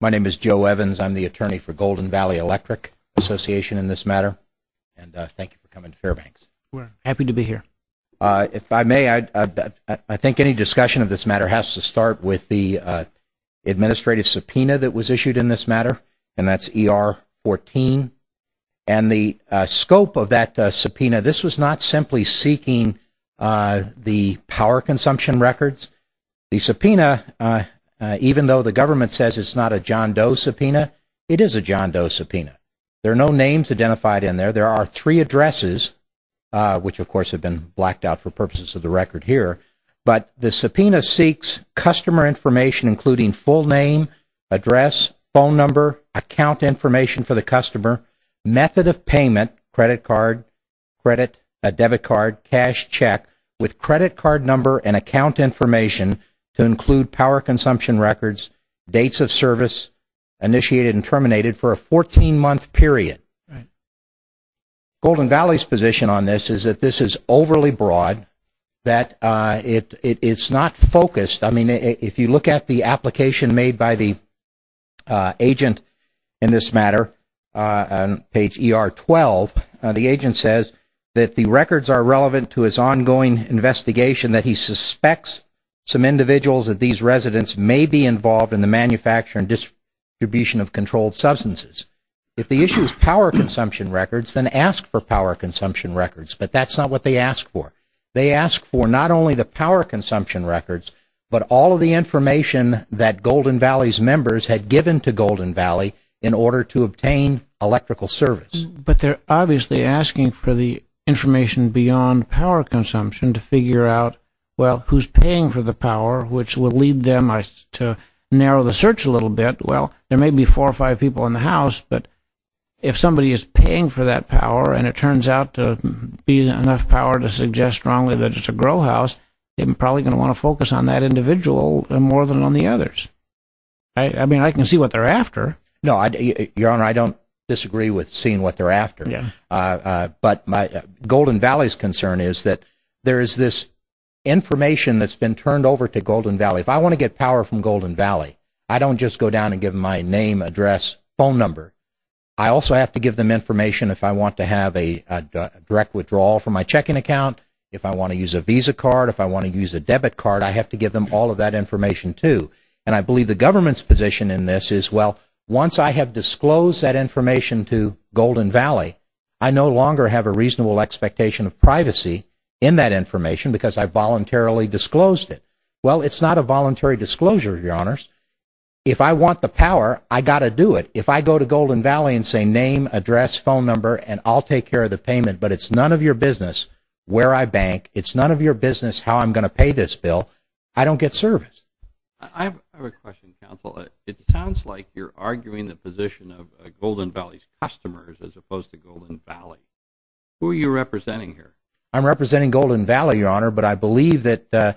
My name is Joe Evans. I'm the attorney for Golden Valley Electric Association in this matter. And thank you for coming to Fairbanks. We're happy to be here. If I may, I think any discussion of this matter has to start with the administrative subpoena that was issued in this matter. And that's ER-14. And the scope of that subpoena, this was not simply seeking the power consumption records. The subpoena, even though the government says it's not a John Doe subpoena, it is a John Doe subpoena. There are no names identified in there. There are three addresses, which of course have been blacked out for purposes of the record here. But the subpoena seeks customer information including full name, address, phone number, account information for the customer, method of payment, credit card, credit, debit card, cash check, with credit card number and account information to include power consumption records, dates of service, initiated and terminated for a 14-month period. Golden Valley's position on this is that this is overly broad, that it's not focused. I mean, if you look at the application made by the agent in this matter on page ER-12, the agent says that the records are relevant to his ongoing investigation, that he suspects some individuals of these residents may be involved in the manufacture and distribution of controlled substances. If the issue is power consumption records, then ask for power consumption records. But that's not what they ask for. They ask for not only the power consumption records, but all of the information that Golden Valley's members had given to Golden Valley in order to obtain electrical service. But they're obviously asking for the information beyond power consumption to figure out, well, who's paying for the power, which will lead them to narrow the search a little bit. Well, there may be four or five people in the house, but if somebody is paying for that power and it turns out to be enough power to suggest strongly that it's a grow house, they're probably going to want to focus on that individual more than on the others. I mean, I can see what they're after. No, Your Honor, I don't disagree with seeing what they're after. But Golden Valley's concern is that there is this information that's been turned over to Golden Valley. If I want to get power from Golden Valley, I don't just go down and give them my name, address, phone number. I also have to give them information if I want to have a direct withdrawal from my checking account, if I want to use a Visa card, if I want to use a debit card. I have to give them all of that information, too. And I believe the government's position in this is, well, once I have disclosed that information to Golden Valley, I no longer have a reasonable expectation of privacy in that information because I voluntarily disclosed it. Well, it's not a voluntary disclosure, Your Honors. If I want the power, I got to do it. If I go to Golden Valley and say name, address, phone number, and I'll take care of the payment, but it's none of your business where I bank, it's none of your business how I'm going to pay this bill, I don't get service. I have a question, counsel. It sounds like you're arguing the position of Golden Valley's customers as opposed to Golden Valley. Who are you representing here? I'm representing Golden Valley, Your Honor, but I believe that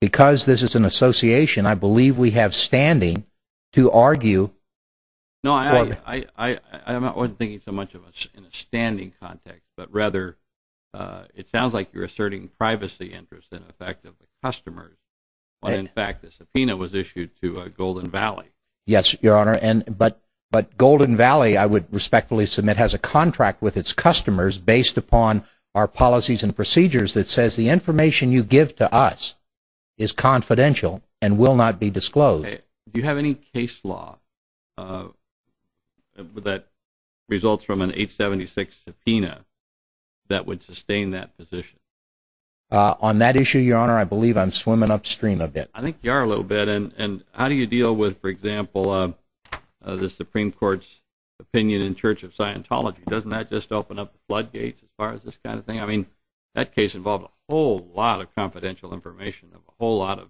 because this is an association, I believe we have standing to argue. No, I wasn't thinking so much of a standing context, but rather it sounds like you're asserting privacy interests in effect of the customers. In fact, the subpoena was issued to Golden Valley. Yes, Your Honor, but Golden Valley, I would respectfully submit, has a contract with its customers based upon our policies and procedures that says the information you give to us is confidential and will not be disclosed. Do you have any case law that results from an 876 subpoena that would sustain that position? On that issue, Your Honor, I believe I'm swimming upstream a bit. I think you are a little bit, and how do you deal with, for example, the Supreme Court's opinion in Church of Scientology? Doesn't that just open up floodgates as far as this kind of thing? I mean, that case involved a whole lot of confidential information of a whole lot of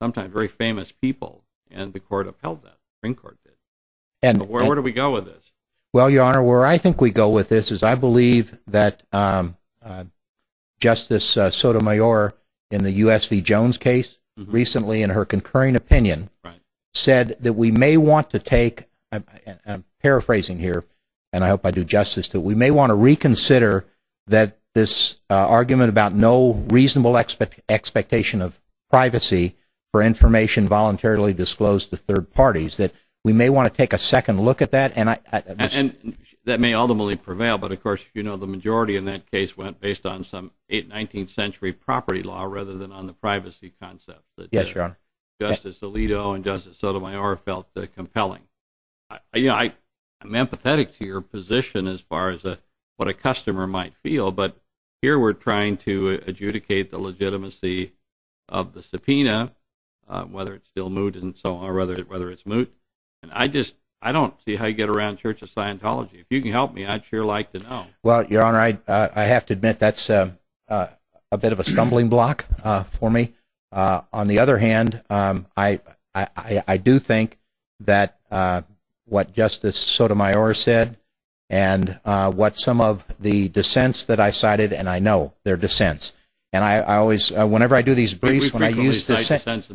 sometimes very famous people, and the court upheld that, the Supreme Court did. Where do we go with this? Well, Your Honor, where I think we go with this is I believe that Justice Sotomayor, in the U.S. v. Jones case recently in her concurring opinion, said that we may want to take, and I'm paraphrasing here, and I hope I do justice to it, but we may want to reconsider that this argument about no reasonable expectation of privacy for information voluntarily disclosed to third parties, that we may want to take a second look at that. And that may ultimately prevail, but of course, you know, the majority in that case went based on some 19th century property law rather than on the privacy concept that Justice Alito and Justice Sotomayor felt compelling. You know, I'm empathetic to your position as far as what a customer might feel, but here we're trying to adjudicate the legitimacy of the subpoena, whether it's still moot and so on, or whether it's moot, and I just don't see how you get around Church of Scientology. If you can help me, I'd sure like to know. Well, Your Honor, I have to admit that's a bit of a stumbling block for me. On the other hand, I do think that what Justice Sotomayor said and what some of the dissents that I cited, and I know they're dissents, and I always, whenever I do these briefs, when I use dissents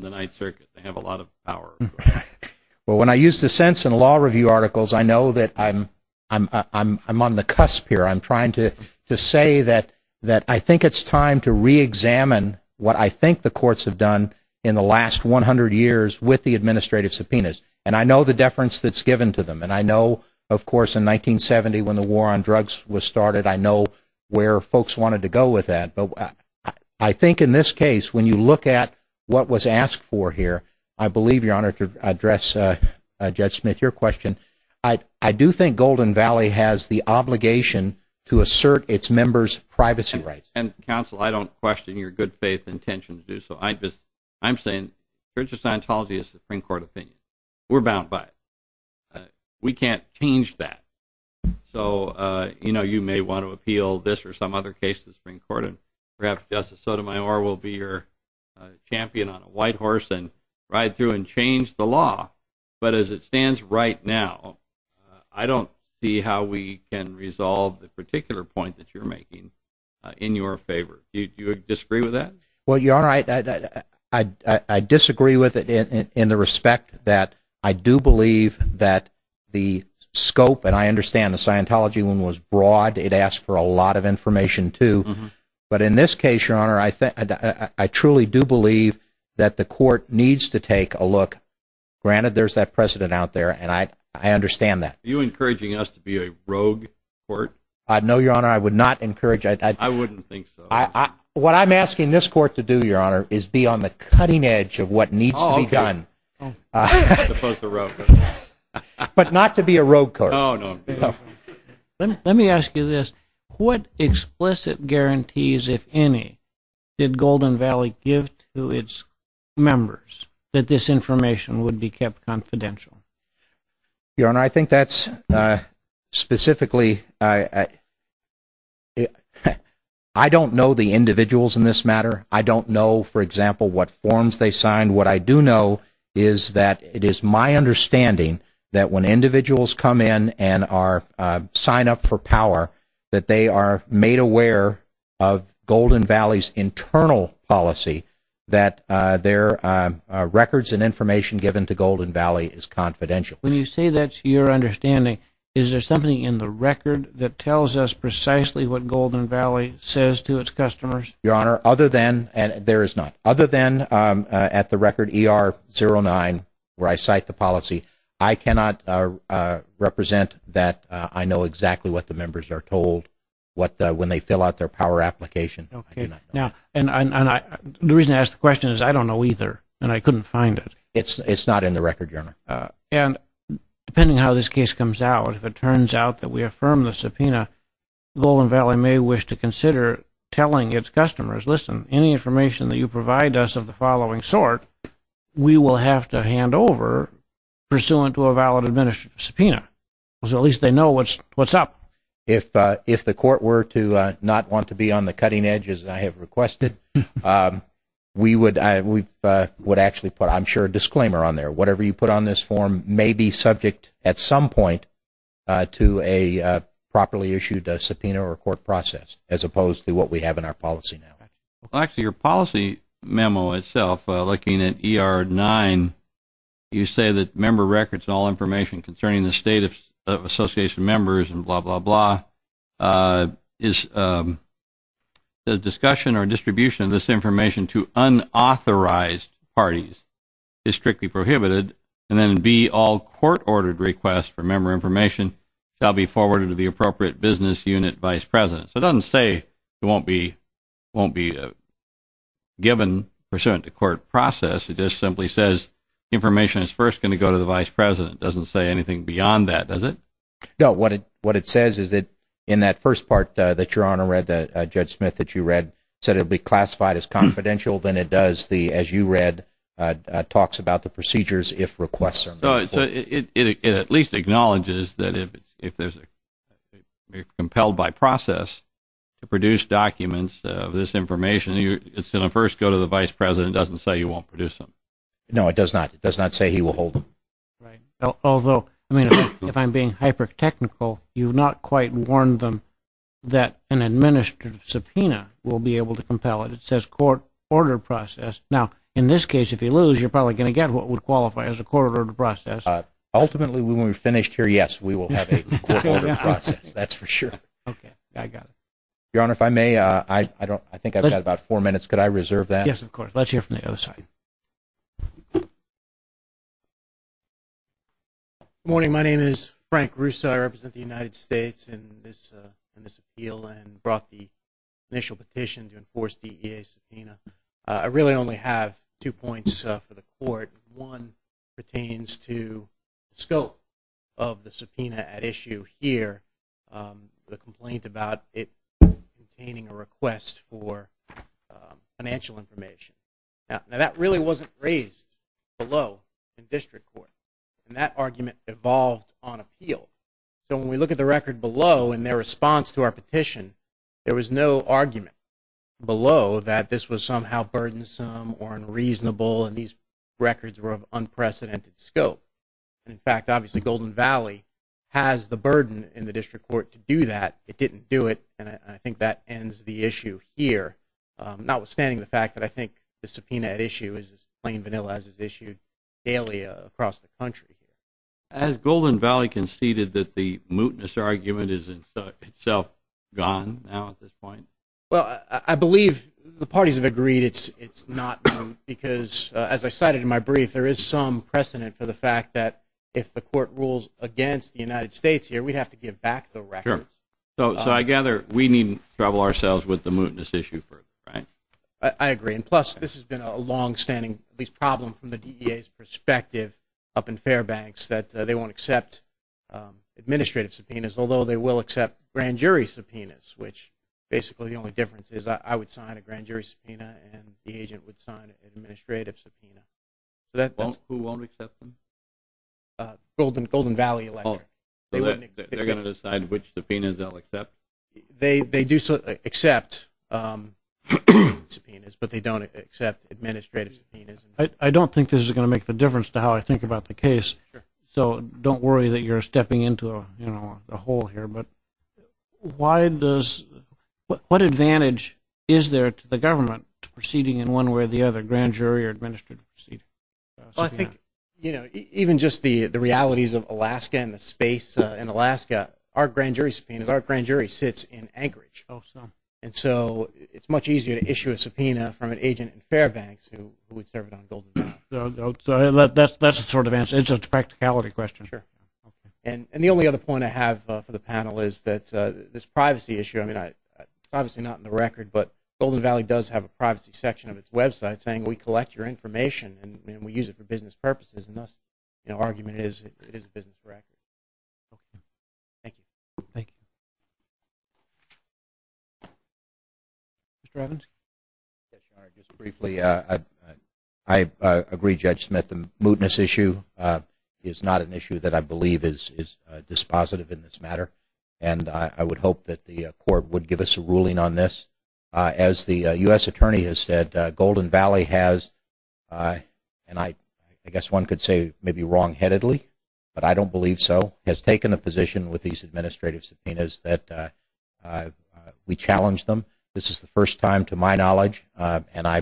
in law review articles, I know that I'm on the cusp here. I'm trying to say that I think it's time to reexamine what I think the courts have done in the last 100 years with the administrative subpoenas, and I know the deference that's given to them, and I know, of course, in 1970 when the war on drugs was started, I know where folks wanted to go with that. But I think in this case, when you look at what was asked for here, I believe, Your Honor, to address Judge Smith, your question, I do think Golden Valley has the obligation to assert its members' privacy rights. And, counsel, I don't question your good faith intention to do so. I'm saying that the Court of Scientology is the Supreme Court opinion. We're bound by it. We can't change that. So, you know, you may want to appeal this or some other case to the Supreme Court, and perhaps Justice Sotomayor will be your champion on a white horse and ride through and change the law. But as it stands right now, I don't see how we can resolve the particular point that you're making in your favor. Do you disagree with that? Well, Your Honor, I disagree with it in the respect that I do believe that the scope, and I understand the Scientology one was broad. It asked for a lot of information, too. But in this case, Your Honor, I truly do believe that the court needs to take a look. Granted, there's that precedent out there, and I understand that. Are you encouraging us to be a rogue court? No, Your Honor, I would not encourage that. I wouldn't think so. What I'm asking this court to do, Your Honor, is be on the cutting edge of what needs to be done. Oh, okay. But not to be a rogue court. Let me ask you this. What explicit guarantees, if any, did Golden Valley give to its members that this information would be kept confidential? Your Honor, I think that's specifically, I don't know the individuals in this matter. I don't know, for example, what forms they signed. And what I do know is that it is my understanding that when individuals come in and sign up for power, that they are made aware of Golden Valley's internal policy, that their records and information given to Golden Valley is confidential. When you say that's your understanding, is there something in the record that tells us precisely what Golden Valley says to its customers? Your Honor, other than, there is not. Other than at the record ER-09, where I cite the policy, I cannot represent that I know exactly what the members are told when they fill out their power application. And the reason I ask the question is I don't know either, and I couldn't find it. It's not in the record, Your Honor. And depending on how this case comes out, if it turns out that we affirm the subpoena, Golden Valley may wish to consider telling its customers, listen, any information that you provide us of the following sort, we will have to hand over pursuant to a valid subpoena. So at least they know what's up. If the court were to not want to be on the cutting edge, as I have requested, we would actually put, I'm sure, a disclaimer on there. Whatever you put on this form may be subject at some point to a properly issued subpoena or a court process, as opposed to what we have in our policy now. Actually, your policy memo itself, looking at ER-09, you say that member records and all information concerning the state of association members and blah, blah, blah is the discussion or distribution of this information to unauthorized parties is strictly prohibited, and then B, all court-ordered requests for member information shall be forwarded to the appropriate business unit vice president. It doesn't say it won't be given pursuant to court process. It just simply says information is first going to go to the vice president. It doesn't say anything beyond that, does it? No. What it says is that in that first part that your Honor read, Judge Smith, that you read, said it would be classified as confidential. Then it does the, as you read, talks about the procedures if requests are made. So it at least acknowledges that if there's a compelled by process to produce documents of this information, it's going to first go to the vice president. It doesn't say you won't produce them. No, it does not. It does not say he will hold them. Right. Although, I mean, if I'm being hyper-technical, you've not quite warned them that an administrative subpoena will be able to compel it. It says court-ordered process. Now, in this case, if you lose, you're probably going to get what would qualify as a court-ordered process. Ultimately, when we're finished here, yes, we will have a court-ordered process. That's for sure. Okay. I got it. Your Honor, if I may, I think I've got about four minutes. Could I reserve that? Yes, of course. Let's hear from the other side. Good morning. My name is Frank Russo. I represent the United States in this appeal and brought the initial petition to enforce the EA subpoena. I really only have two points for the court. One pertains to scope of the subpoena at issue here, the complaint about it obtaining a request for financial information. Now, that really wasn't raised below in district court, and that argument evolved on appeal. So when we look at the record below in their response to our petition, there was no argument below that this was somehow burdensome or unreasonable and these records were of unprecedented scope. In fact, obviously, Golden Valley has the burden in the district court to do that. It didn't do it, and I think that ends the issue here, notwithstanding the fact that I think the subpoena at issue is as plain vanilla as it's issued daily across the country. Has Golden Valley conceded that the mootness argument is in itself gone now at this point? Well, I believe the parties have agreed it's not because, as I cited in my brief, there is some precedent for the fact that if the court rules against the United States here, we'd have to give back the record. Sure. So I gather we needn't trouble ourselves with the mootness issue further, right? I agree, and plus this has been a longstanding problem from the DEA's perspective up in Fairbanks that they won't accept administrative subpoenas, although they will accept grand jury subpoenas, which basically the only difference is I would sign a grand jury subpoena and the agent would sign an administrative subpoena. Who won't accept them? Golden Valley Electric. So they're going to decide which subpoenas they'll accept? They do accept subpoenas, but they don't accept administrative subpoenas. I don't think this is going to make the difference to how I think about the case, so don't worry that you're stepping into a hole here. But what advantage is there to the government proceeding in one way or the other, grand jury or administrative proceeding? Well, I think, you know, even just the realities of Alaska and the space in Alaska, our grand jury subpoenas, our grand jury sits in Anchorage, and so it's much easier to issue a subpoena from an agent in Fairbanks who would serve on Golden Valley. So that's the sort of answer. It's a practicality question. Sure. And the only other point I have for the panel is that this privacy issue, I mean, it's obviously not in the record, but Golden Valley does have a privacy section of its website saying we collect your information and we use it for business purposes, and thus the argument is it is business correct. Thank you. Thank you. Mr. Evans? Just briefly, I agree, Judge Smith, the mootness issue is not an issue that I believe is dispositive in this matter, and I would hope that the Court would give us a ruling on this. As the U.S. Attorney has said, Golden Valley has, and I guess one could say maybe wrong-headedly, but I don't believe so, has taken a position with these administrative subpoenas that we challenge them. This is the first time, to my knowledge, and I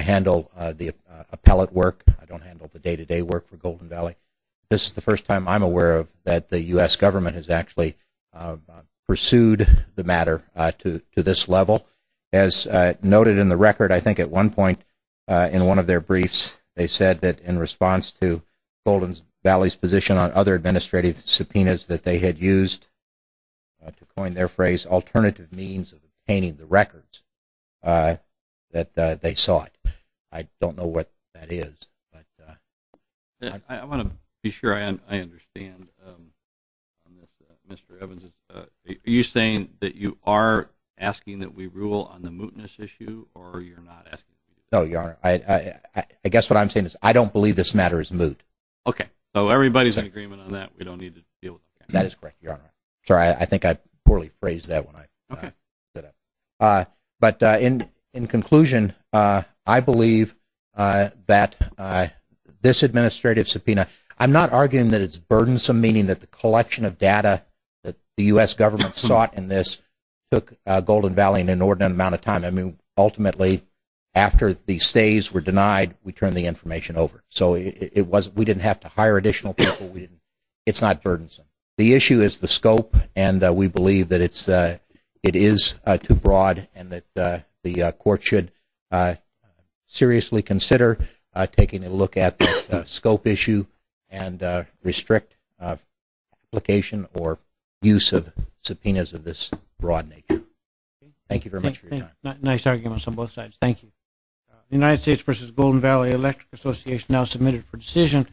handle the appellate work. I don't handle the day-to-day work for Golden Valley. This is the first time I'm aware that the U.S. Government has actually pursued the matter to this level. As noted in the record, I think at one point in one of their briefs, they said that in response to Golden Valley's position on other administrative subpoenas that they had used, to coin their phrase, alternative means of obtaining the records, that they saw it. I don't know what that is. I want to be sure I understand. Mr. Evans, are you saying that you are asking that we rule on the mootness issue, or you're not asking? No, Your Honor. I guess what I'm saying is I don't believe this matter is moot. Okay. So everybody's in agreement on that? We don't need to deal with that? That is correct, Your Honor. Sorry, I think I poorly phrased that when I said that. But in conclusion, I believe that this administrative subpoena, I'm not arguing that it's burdensome, meaning that the collection of data that the U.S. Government sought in this took Golden Valley an inordinate amount of time. Ultimately, after the stays were denied, we turned the information over. So we didn't have to hire additional people. It's not burdensome. The issue is the scope, and we believe that it is too broad, and that the Court should seriously consider taking a look at the scope issue and restrict application or use of subpoenas of this broad nature. Thank you very much for your time. Nice arguments on both sides. Thank you. The United States v. Golden Valley Electric Association now submitted for decision.